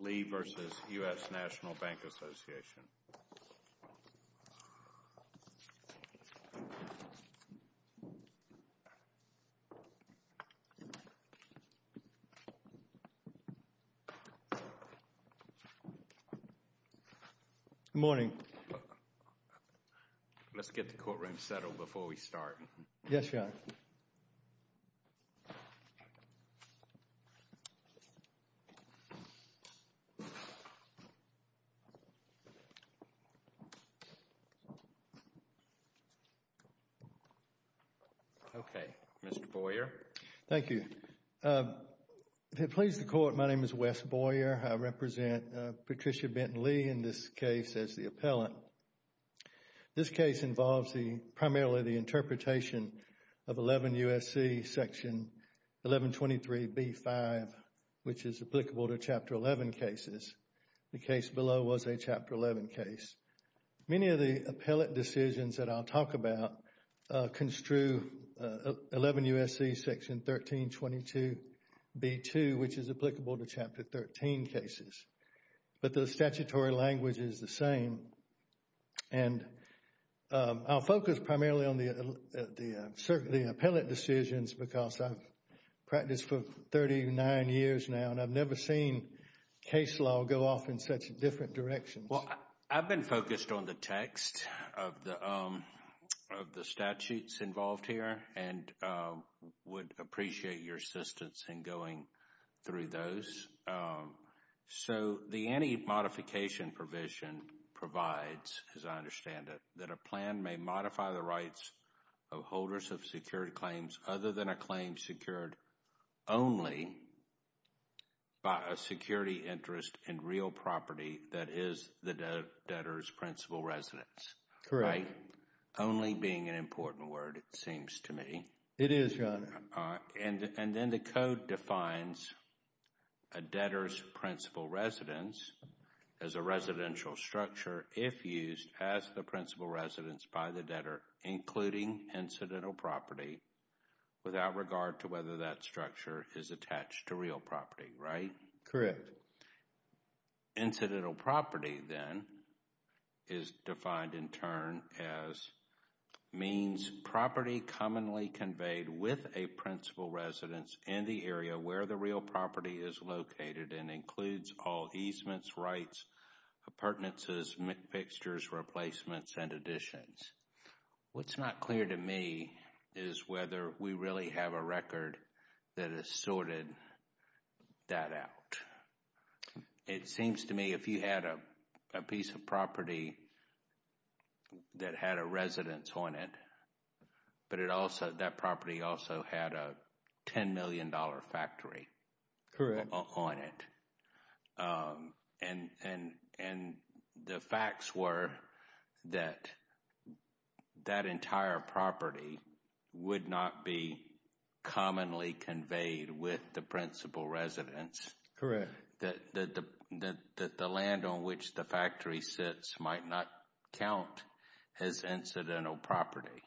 Lee v. U.S. National Bank Association Good morning Let's get the courtroom settled before we start Yes, Your Honor Okay, Mr. Boyer Thank you To please the Court, my name is Wes Boyer I represent Patricia Benton Lee in this case as the appellant This case involves primarily the interpretation of 11 U.S.C. section 1123b-5 which is applicable to Chapter 11 cases The case below was a Chapter 11 case Many of the appellate decisions that I'll talk about construe 11 U.S.C. section 1322b-2 which is applicable to Chapter 13 cases But the statutory language is the same And I'll focus primarily on the appellate decisions because I've practiced for 39 years now and I've never seen case law go off in such different directions Well, I've been focused on the text of the statutes involved here and would appreciate your assistance in going through those So the anti-modification provision provides, as I understand it that a plan may modify the rights of holders of security claims other than a claim secured only by a security interest in real property that is the debtor's principal residence Correct Only being an important word, it seems to me It is, Your Honor And then the Code defines a debtor's principal residence as a residential structure if used as the principal residence by the debtor including incidental property without regard to whether that structure is attached to real property, right? Correct Incidental property, then, is defined in turn as means property commonly conveyed with a principal residence in the area where the real property is located and includes all easements, rights, appurtenances, mixtures, replacements, and additions What's not clear to me is whether we really have a record that has sorted that out It seems to me if you had a piece of property that had a residence on it but that property also had a $10 million factory on it and the facts were that that entire property would not be commonly conveyed with the principal residence Correct That the land on which the factory sits might not count as incidental property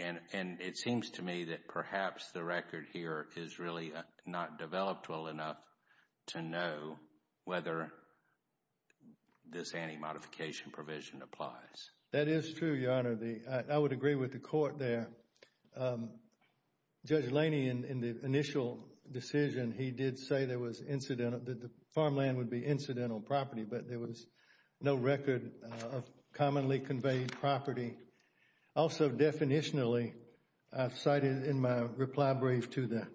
And it seems to me that perhaps the record here is really not developed well enough to know whether this anti-modification provision applies That is true, Your Honor I would agree with the Court there Judge Laney, in the initial decision, he did say there was incidental that the farmland would be incidental property but there was no record of commonly conveyed property Also, definitionally, I've cited in my reply brief to the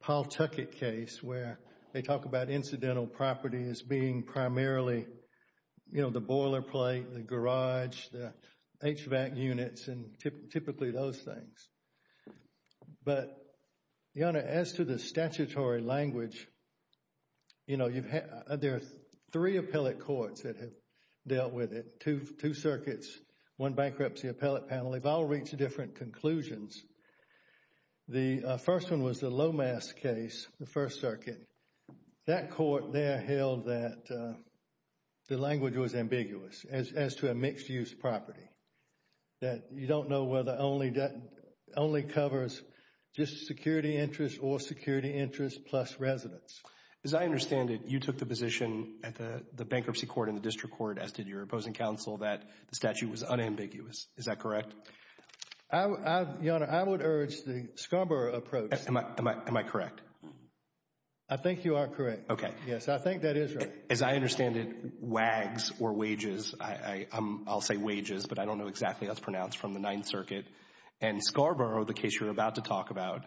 Paul Tuckett case where they talk about incidental property as being primarily you know, the boilerplate, the garage, the HVAC units, and typically those things But, Your Honor, as to the statutory language You know, there are three appellate courts that have dealt with it Two circuits, one bankruptcy appellate panel They've all reached different conclusions The first one was the Lomas case, the First Circuit That court there held that the language was ambiguous as to a mixed-use property That you don't know whether it only covers just security interest or security interest plus residence As I understand it, you took the position at the bankruptcy court and the district court as did your opposing counsel, that the statute was unambiguous Is that correct? Your Honor, I would urge the SCARBOROUGH approach Am I correct? I think you are correct Yes, I think that is right As I understand it, WAGS or wages I'll say wages, but I don't know exactly how it's pronounced from the Ninth Circuit And SCARBOROUGH, the case you're about to talk about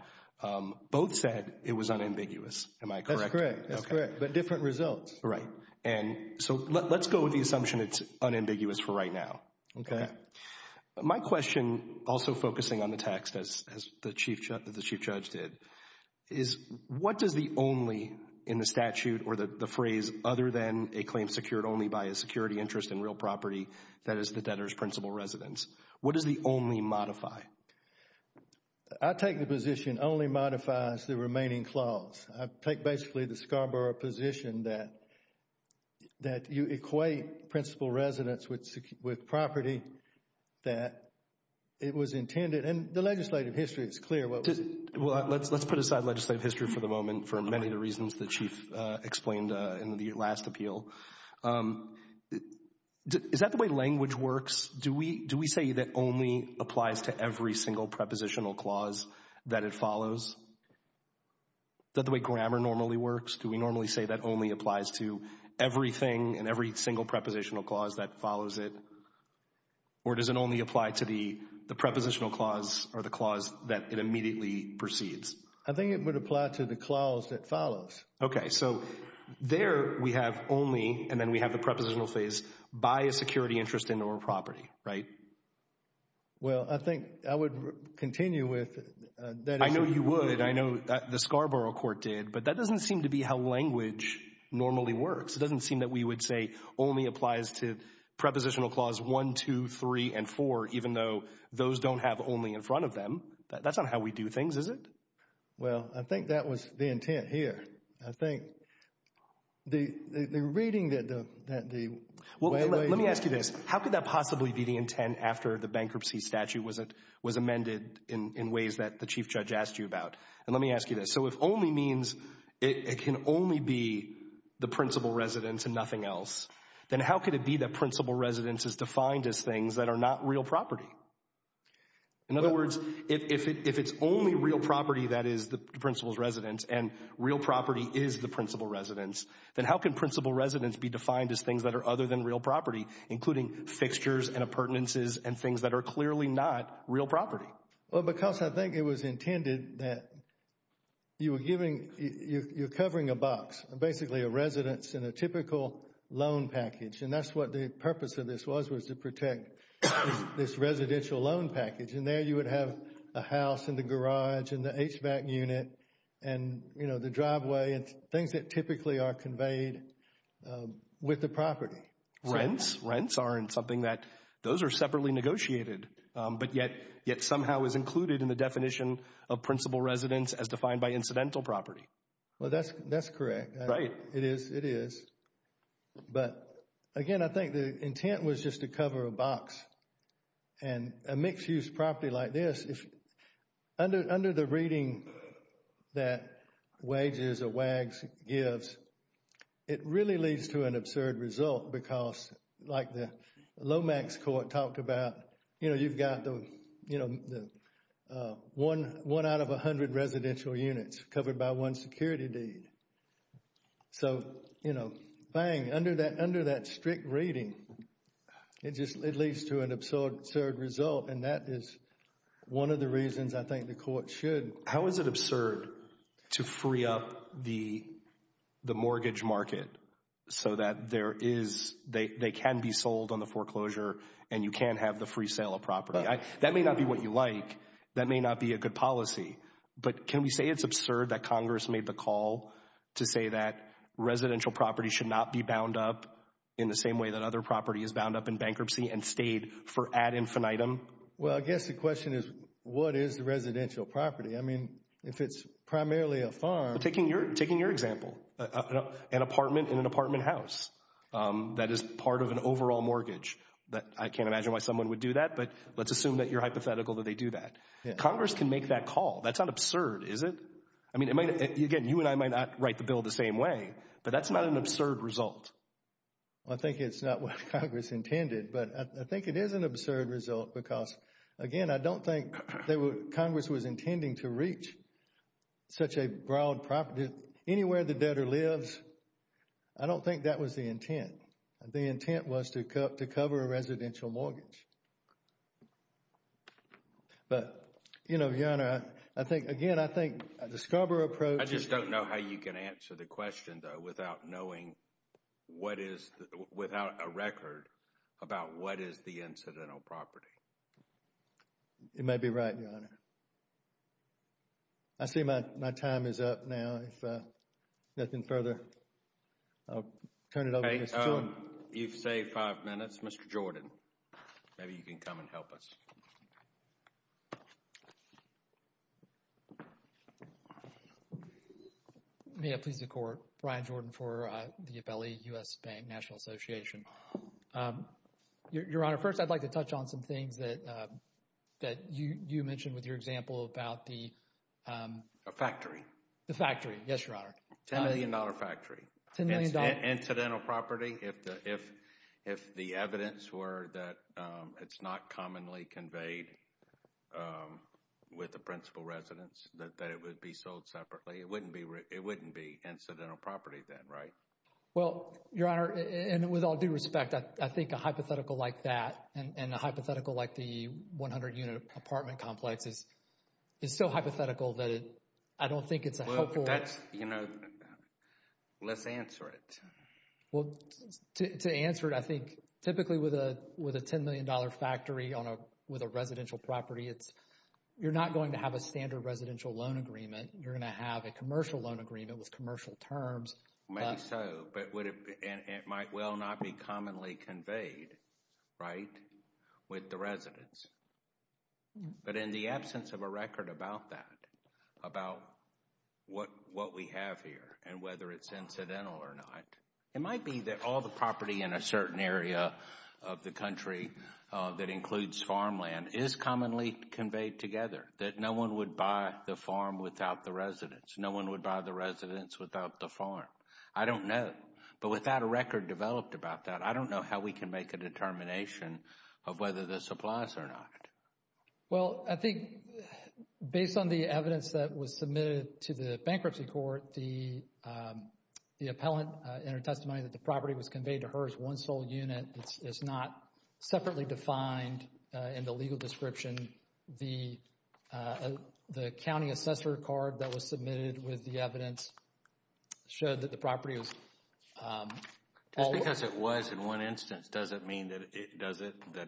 Both said it was unambiguous Am I correct? That's correct But different results Right So let's go with the assumption it's unambiguous for right now Okay My question, also focusing on the text as the Chief Judge did What does the only in the statute or the phrase Other than a claim secured only by a security interest in real property That is the debtor's principal residence What does the only modify? I take the position only modifies the remaining clause I take basically the SCARBOROUGH position that That you equate principal residence with property That it was intended And the legislative history is clear Let's put aside legislative history for the moment For many of the reasons the Chief explained in the last appeal Is that the way language works? Do we say that only applies to every single prepositional clause that it follows? Is that the way grammar normally works? Do we normally say that only applies to everything And every single prepositional clause that follows it? Or does it only apply to the prepositional clause Or the clause that it immediately proceeds? I think it would apply to the clause that follows Okay, so there we have only And then we have the prepositional phase By a security interest in real property, right? Well, I think I would continue with I know you would, I know the SCARBOROUGH Court did But that doesn't seem to be how language normally works It doesn't seem that we would say only applies to Prepositional clause 1, 2, 3 and 4 Even though those don't have only in front of them That's not how we do things, is it? Well, I think that was the intent here I think the reading that the way language Well, let me ask you this How could that possibly be the intent after the bankruptcy statute Was amended in ways that the Chief Judge asked you about? And let me ask you this So if only means it can only be The principal residence and nothing else Then how could it be that principal residence Is defined as things that are not real property? In other words, if it's only real property That is the principal's residence And real property is the principal residence Then how can principal residence be defined as things That are other than real property Including fixtures and appurtenances And things that are clearly not real property? Well, because I think it was intended that You were giving, you're covering a box Basically a residence in a typical loan package And that's what the purpose of this was Was to protect this residential loan package And there you would have a house and a garage And the HVAC unit and, you know, the driveway And things that typically are conveyed with the property Rents aren't something that Those are separately negotiated But yet somehow is included in the definition Of principal residence as defined by incidental property Well, that's correct It is But, again, I think the intent was just to cover a box And a mixed-use property like this Under the reading that wages or WAGs gives It really leads to an absurd result Because, like the Lomax Court talked about You know, you've got the, you know One out of a hundred residential units Covered by one security deed So, you know, bang Under that strict reading It just, it leads to an absurd result And that is one of the reasons I think the court should How is it absurd to free up the mortgage market So that there is, they can be sold on the foreclosure And you can have the free sale of property That may not be what you like That may not be a good policy But can we say it's absurd that Congress made the call To say that residential property should not be bound up In the same way that other property is bound up in bankruptcy And stayed for ad infinitum Well, I guess the question is What is the residential property? I mean, if it's primarily a farm Taking your example An apartment in an apartment house That is part of an overall mortgage I can't imagine why someone would do that But let's assume that you're hypothetical that they do that Congress can make that call That's not absurd, is it? I mean, again, you and I might not write the bill the same way But that's not an absurd result I think it's not what Congress intended But I think it is an absurd result Because, again, I don't think Congress was intending to reach Such a broad property Anywhere the debtor lives I don't think that was the intent The intent was to cover a residential mortgage But, you know, Your Honor I think, again, I think The Scarborough approach I just don't know how you can answer the question, though Without knowing what is Without a record About what is the incidental property You may be right, Your Honor I see my time is up now If nothing further I'll turn it over to Mr. Jordan You've saved five minutes Yes, Mr. Jordan Maybe you can come and help us May it please the Court Brian Jordan for the U.S. Bank National Association Your Honor, first I'd like to touch on some things That you mentioned with your example About the A factory The factory, yes, Your Honor $10 million factory $10 million Incidental property If the evidence were That it's not commonly Conveyed With the principal residents That it would be sold separately It wouldn't be incidental property Then, right? Well, Your Honor And with all due respect I think a hypothetical like that And a hypothetical like the 100-unit apartment complex Is so hypothetical that I don't think it's a helpful That's, you know Let's answer it Well, to answer it, I think Typically with a $10 million factory With a residential property You're not going to have a standard residential loan agreement You're going to have a commercial loan agreement With commercial terms Maybe so, but would it It might well not be commonly conveyed Right? With the residents But in the absence of a record about that About what we have here And whether it's incidental or not It might be that All the property in a certain area Of the country That includes farmland Is commonly conveyed together That no one would buy the farm without the residents No one would buy the residents without the farm I don't know But without a record developed about that I don't know how we can make a determination Of whether this applies or not Well, I think Based on the evidence That was submitted to the bankruptcy court The Appellant in her testimony That the property was conveyed to her as one sole unit It's not separately defined In the legal description The The county assessor card that was submitted With the evidence Showed that the property was All Just because it was in one instance Doesn't mean that it Doesn't mean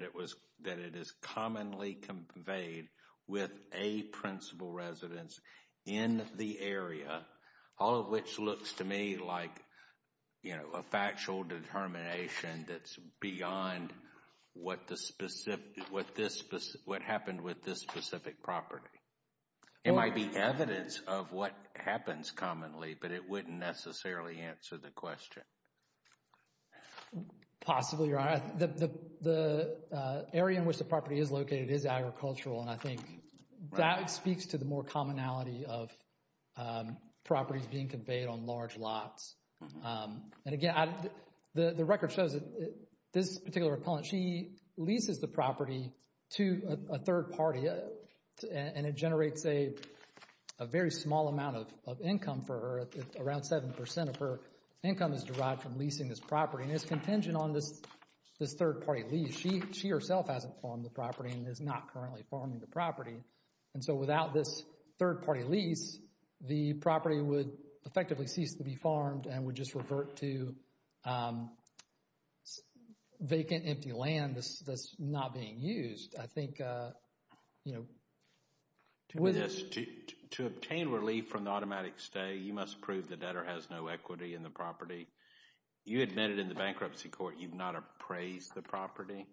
that it is Commonly conveyed With a principal residence In the area All of which looks to me Like a factual Determination that's Beyond What happened With this specific property It might be evidence Of what happens commonly But it wouldn't necessarily answer the question Possibly right The Area in which the property is located is agricultural And I think that speaks To the more commonality of Properties being conveyed On large lots And again, the record shows That this particular appellant She leases the property To a third party And it generates a Very small amount of income For her, around 7% of her Property and it's contingent on this Third party lease. She herself Hasn't farmed the property and is not currently Farming the property and so without This third party lease The property would effectively Cease to be farmed and would just revert to Vacant Empty land That's not being used I think To Obtain relief from the automatic stay You must prove the debtor has no equity In the property. You admitted In the bankruptcy court you've not appraised The property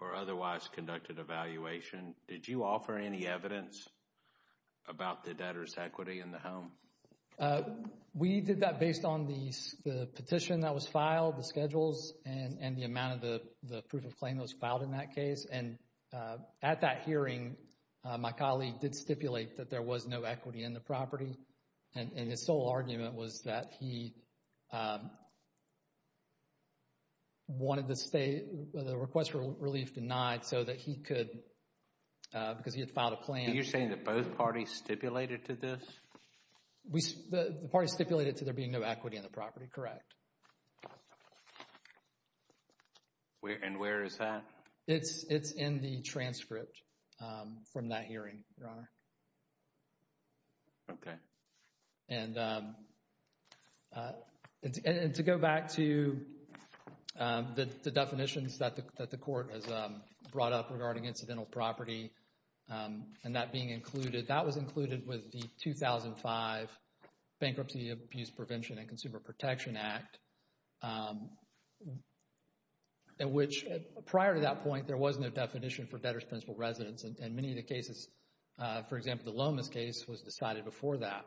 or otherwise Conducted evaluation Did you offer any evidence About the debtor's equity in the Home? We did that based on the petition That was filed, the schedules And the amount of the proof of claim That was filed in that case And at that hearing My colleague did stipulate that there was no Equity in the property And his sole argument was That he Wanted the request For relief denied so that he could Because he had filed a claim Are you saying that both parties stipulated To this? The parties stipulated to there being no equity in the And where is that? It's in the transcript From that hearing, Your Honor Okay And To go back to The definitions that the Court has brought up regarding Incidental property And that being included, that was included With the 2005 Bankruptcy Abuse Prevention and Consumer Protection Act In which prior to that point there was No definition for debtor's principal residence And many of the cases For example, the Lomas case was decided before that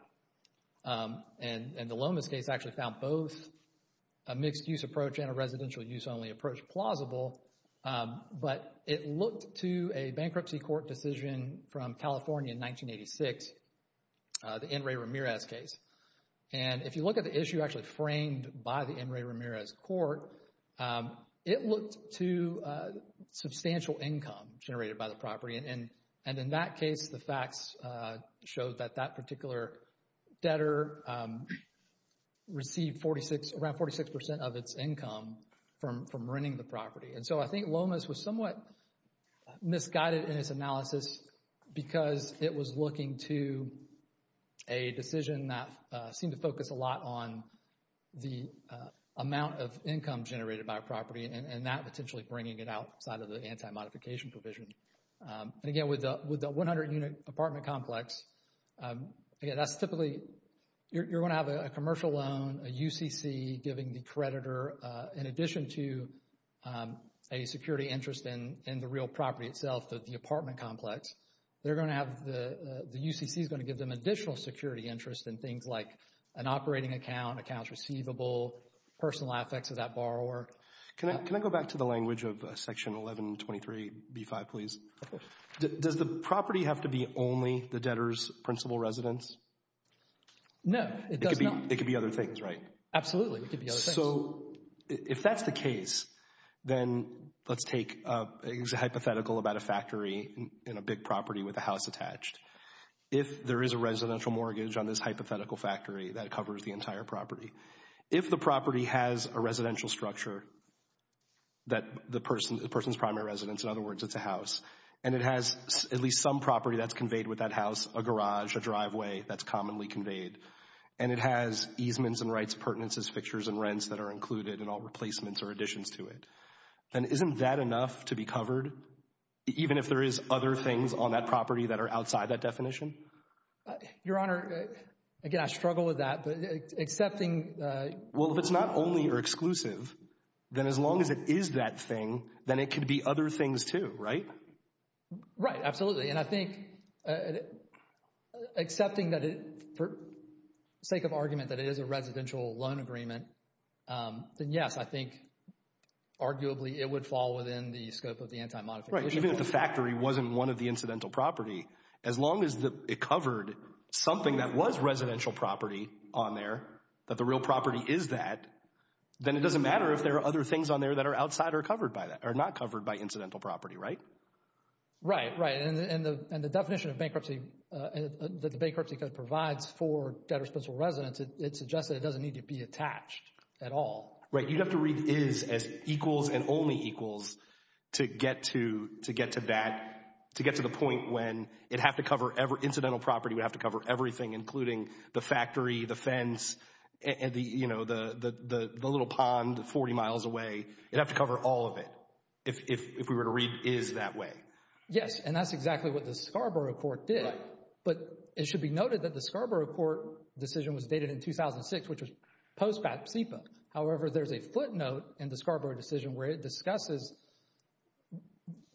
And the Lomas case actually found both A mixed use approach and a residential Use only approach plausible But it looked to A bankruptcy court decision From California in 1986 The N. Ray Ramirez case And if you look at the issue Actually framed by the N. Ray Ramirez Court It looked to Substantial income Generated by the property And in that case the facts Showed that that particular Debtor Received around 46% Of its income from renting The property. And so I think Lomas was somewhat Misguided in Its analysis because It was looking to A decision that seemed To focus a lot on The amount of income Generated by a property and that Potentially bringing it outside of the Anti-modification provision. And again With the 100 unit apartment complex That's typically You're going to have a commercial loan A UCC giving the Creditor in addition to A security interest In the real property itself The apartment complex. They're going to have The UCC is going to give them Additional security interest in things like An operating account, accounts receivable Personal affects of that borrower Can I go back to the language of Section 1123B5 Please. Does the property Have to be only the debtor's Principal residence? No. It could be other things, right? Absolutely. It could be other things. So if that's the case Then let's take A hypothetical about a factory In a big property with a house attached If there is a residential Mortgage on this hypothetical factory that If the property has a residential structure That the Person's primary residence, in other words It's a house. And it has at least Some property that's conveyed with that house A garage, a driveway that's commonly conveyed And it has easements And rights, pertinences, fixtures and rents that are Included in all replacements or additions to it Then isn't that enough To be covered? Even if there is Other things on that property that are outside That definition? Your Honor, again I struggle with that But accepting Well if it's not only or exclusive Then as long as it is that thing Then it could be other things too, right? Right. Absolutely. And I think Accepting that it For sake of argument that it is a residential Loan agreement Then yes, I think Arguably it would fall within the scope Of the Anti-Modification Clause. Right. Even if the factory Wasn't one of the incidental property As long as it covered Something that was residential property On there, that the real property Is that, then it doesn't matter If there are other things on there that are outside Or covered by that, or not covered by incidental property Right? Right. And the definition of bankruptcy That the bankruptcy code provides For debtor-sponsored residence It suggests that it doesn't need to be attached At all. Right. You'd have to read is As equals and only equals To get to That, to get to the point when It'd have to cover, incidental property Would have to cover everything including The factory, the fence You know, the little pond Forty miles away. It'd have to cover All of it. If we were to read Is that way. Yes. And that's exactly what the Scarborough Court did. Right. But it should be noted that the Scarborough Court decision was dated in 2006 Which was post-BAPSIPA However, there's a footnote in the Scarborough Decision where it discusses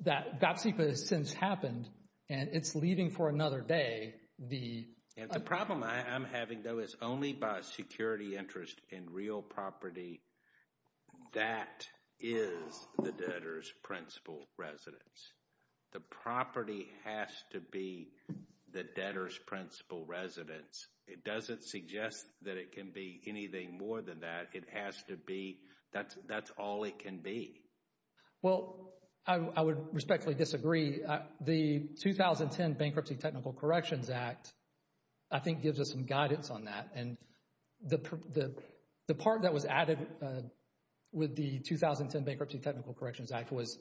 That BAPSIPA Has since happened and It's leaving for another day The problem I'm having Though is only by security interest In real property That is The debtor's principal Residence. The property Has to be The debtor's principal residence It doesn't suggest that It can be anything more than that It has to be, that's All it can be. Well, I would Respectfully disagree. The 2010 Bankruptcy Technical Corrections Act I think gives us Some guidance on that and The part that was added With the 2010 Bankruptcy Technical Corrections Act was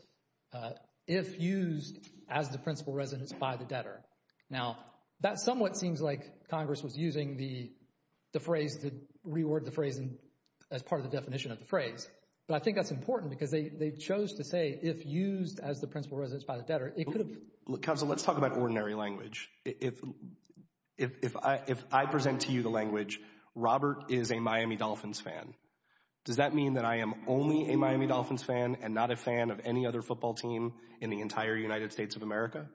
If used As the principal residence by the debtor Now, that somewhat seems like Congress was using the Phrase, the reword of the phrase As part of the definition of the phrase But I think that's important because they Chose to say if used as the principal Residence by the debtor, it could have been Counsel, let's talk about ordinary language If I Present to you the language, Robert Is a Miami Dolphins fan Does that mean that I am only a Miami Dolphins fan and not a fan of any other Football team in the entire United States Of America?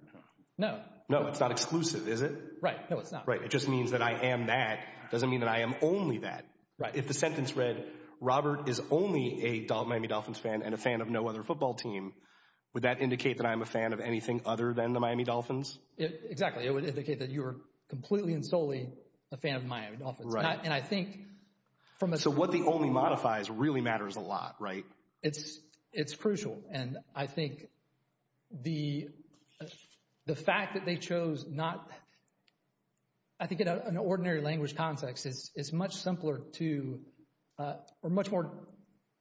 No It's not exclusive, is it? Right, no it's not It just means that I am that It doesn't mean that I am only that Right, if the sentence read, Robert Is only a Miami Dolphins fan And a fan of no other football team Would that indicate that I am a fan of anything Other than the Miami Dolphins? Exactly, it would indicate that you are completely and solely A fan of Miami Dolphins And I think So what the only modifies really matters a lot, right? It's crucial And I think The Fact that they chose not I think in an ordinary Language context, it's much simpler To Or much more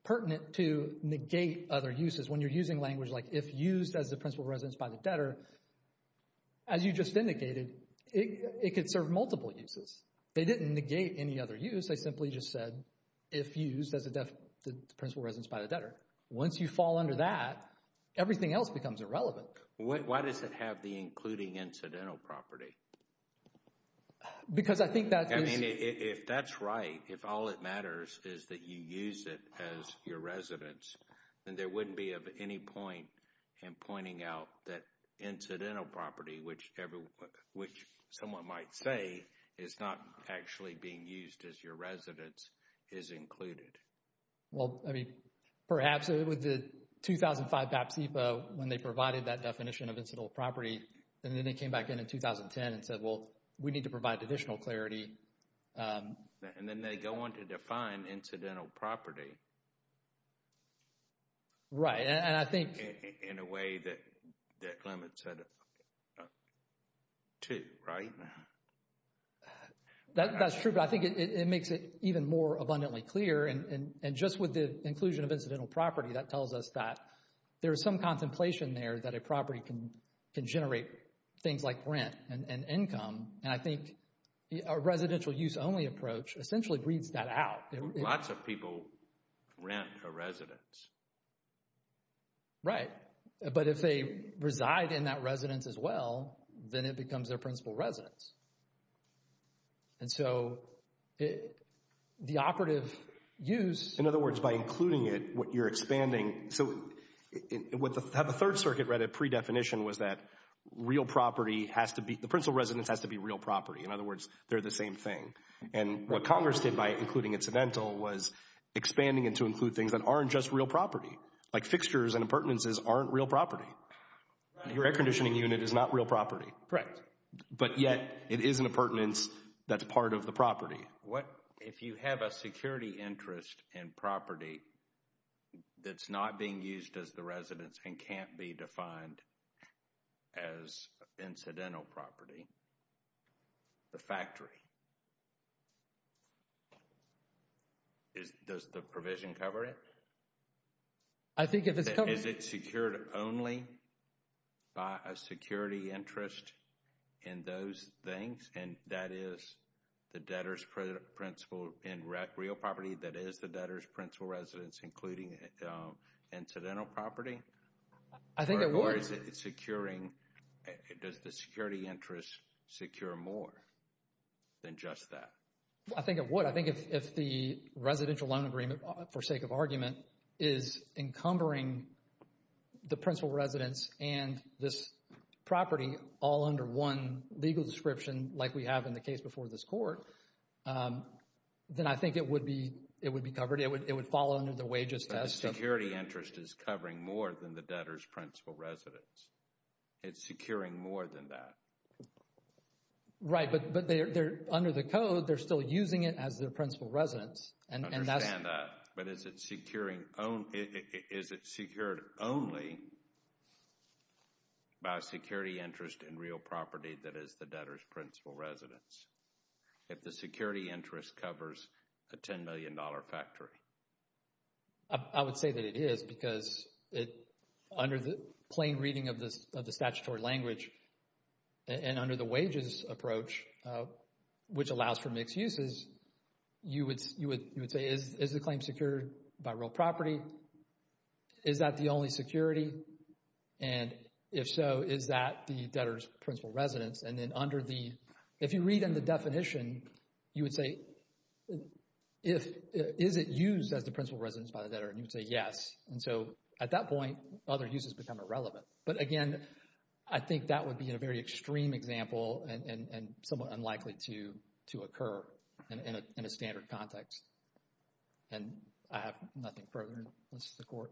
pertinent to Negate other uses when you're using language Like if used as the principal residence by the debtor As you just Indicated, it could serve Multiple uses. They didn't negate Any other use, they simply just said If used as a Principal residence by the debtor. Once you fall Under that, everything else becomes Irrelevant. Why does it have the Including incidental property? Because I think that If that's right, if all It matters is that you use it As your residence Then there wouldn't be of any point In pointing out that Incidental property, which Which someone might say Is not actually being used As your residence is included Well, I mean Perhaps it was the 2005 PAP SIPA when they provided That definition of incidental property And then they came back in in 2010 And said, well, we need to provide additional Clarity And then they go on to define incidental Property Right, and I think In a way that Limits it To, right? That's true But I think it makes it even more Abundantly clear, and just with The inclusion of incidental property, that tells us That there is some contemplation There that a property can generate Things like rent and Income, and I think A residential use only approach essentially Breeds that out. Lots of people Rent a residence Right But if they reside In that residence as well Then it becomes their principal residence And so The operative Use. In other words, by Including it, you're expanding So The Third Circuit read a pre-definition was that Real property has to be The principal residence has to be real property In other words, they're the same thing And what Congress did by including incidental Was expanding it to include things that Aren't just real property Like fixtures and appurtenances aren't real property Your air conditioning unit is not real property Correct But yet, it is an appurtenance That's part of the property If you have a security interest In property That's not being used as the residence And can't be defined As Incidental property The factory Does the provision Cover it I think if it's covered Is it secured only By a security interest In those things And that is the debtor's Principal and real property That is the debtor's principal residence Including incidental Property Or is it securing Does the security interest Secure more Than just that I think it would. I think if the residential loan agreement For sake of argument Is encumbering The principal residence And this property All under one legal description Like we have in the case before this court Then I think It would be covered It would fall under the wages test The security interest is covering more than the debtor's Principal residence It's securing more than that Right But under the code, they're still using it As their principal residence I understand that But is it secured Only By a security interest In real property that is the debtor's Principal residence If the security interest covers A $10 million factory I would say that it is Because it Under the plain reading of the Statutory language And under the wages approach Which allows for mixed uses You would say Is the claim secured by real property Is that the only Security And if so Is that the debtor's principal residence And then under the If you read in the definition You would say Is it used as the principal residence By the debtor and you would say yes And so at that point other uses become irrelevant But again I think that would be a very extreme example And somewhat unlikely to Occur in a standard Context And I have nothing further To say here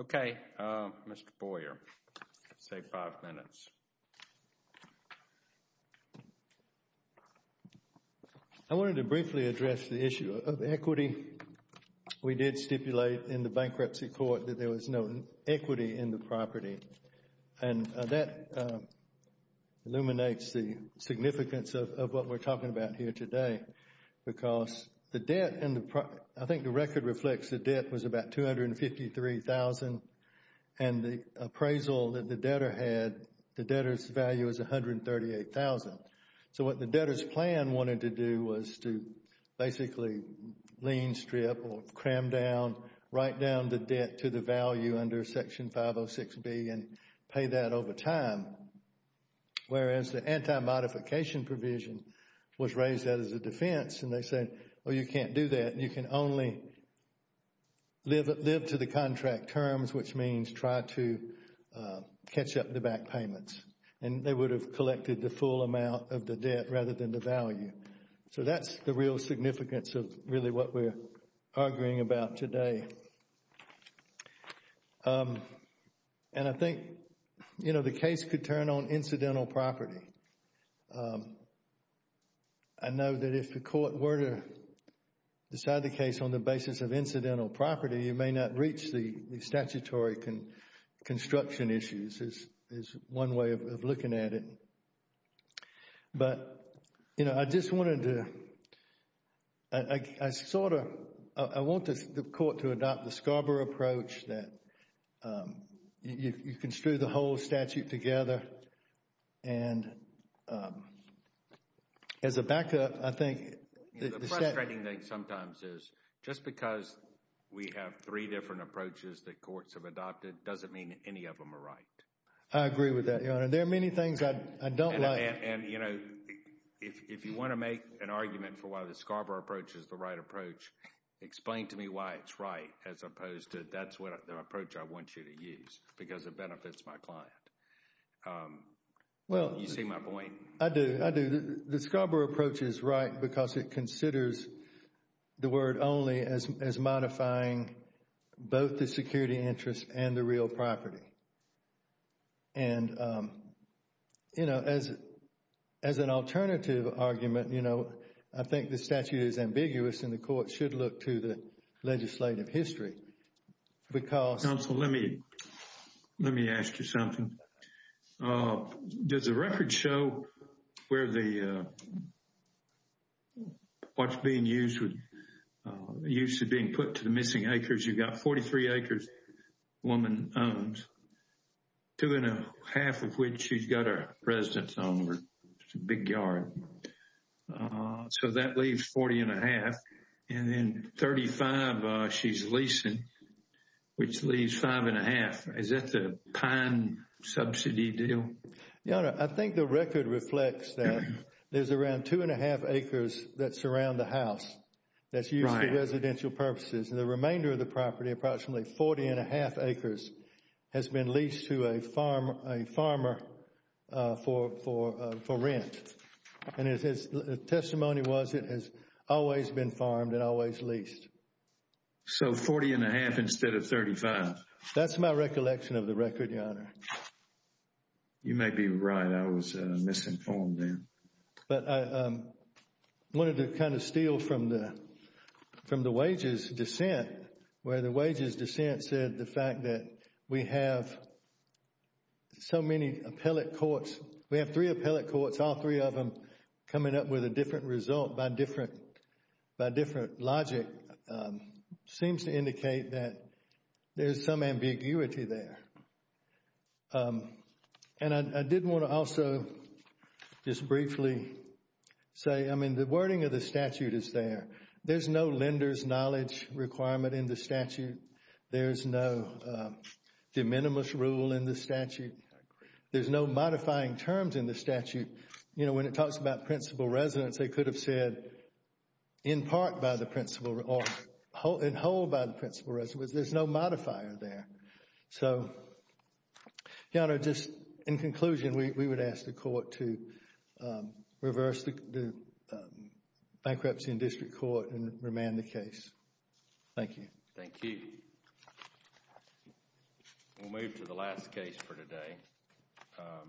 Okay Mr. Boyer Say five minutes I wanted to briefly address the issue Of equity We did stipulate in the bankruptcy court That there was no equity in the property And that Illuminates the Significance of what we're talking about Here today Because the debt And I think the record reflects The debt was about $253,000 And the Appraisal that the debtor had The debtor's value was $138,000 So what the debtor's plan Wanted to do was to Basically lean strip Or cram down Write down the debt to the value under Section 506B and Pay that over time Whereas the anti-modification Provision was raised As a defense and they said You can't do that, you can only Live to the contract Terms which means try to Catch up the back payments And they would have collected The full amount of the debt rather than the value So that's the real Significance of really what we're Arguing about today And I think You know the case could turn on I know that If the court were to Decide the case on the basis of incidental Property you may not reach the Statutory construction Issues is one way Of looking at it But you know I just wanted to I sort of I want the court to adopt the Scarborough approach that You construe the whole Statute together And As a backup I think The frustrating thing sometimes is Just because we have three Different approaches that courts have adopted Doesn't mean any of them are right I agree with that Your Honor, there are many things I don't like If you want to make an argument For why the Scarborough approach is the right approach Explain to me why it's right As opposed to that's the Approach I want you to use Because it benefits my client You see my point I do, I do The Scarborough approach is right because it Considers the word Only as modifying Both the security interests And the real property And You know As an alternative argument I think the statute is ambiguous And the court should look to the Legislative history Because Let me ask you Something Does the record show Where the What's being used With Used to being put to the missing acres You've got 43 acres Woman owns Two and a half of which She's got her residence on Big yard So that leaves 40 and a half And then 35 She's leasing Which leaves five and a half Is that the pine subsidy deal Your honor, I think the record Reflects that there's around Two and a half acres that surround The house that's used for residential Purposes and the remainder of the property Approximately 40 and a half acres Has been leased to a Farmer For rent And the testimony was That has always been farmed And always leased So 40 and a half instead of 35 That's my recollection of the record Your honor You may be right, I was misinformed But I Wanted to kind of steal From the Wages dissent Where the wages dissent said the fact that We have So many appellate courts We have three appellate courts, all three of them Coming up with a different result By different Logic Seems to indicate that There's some ambiguity there And I did want to also Just briefly Say, I mean the wording of the statute Is there, there's no lenders Knowledge requirement in the statute There's no De minimis rule in the statute There's no modifying Terms in the statute You know when it talks about principal residence They could have said In part by the principal In whole by the principal residence There's no modifier there So Your honor, just in conclusion We would ask the court to Reverse the Bankruptcy in district court And remand the case Thank you We'll move to the last case For today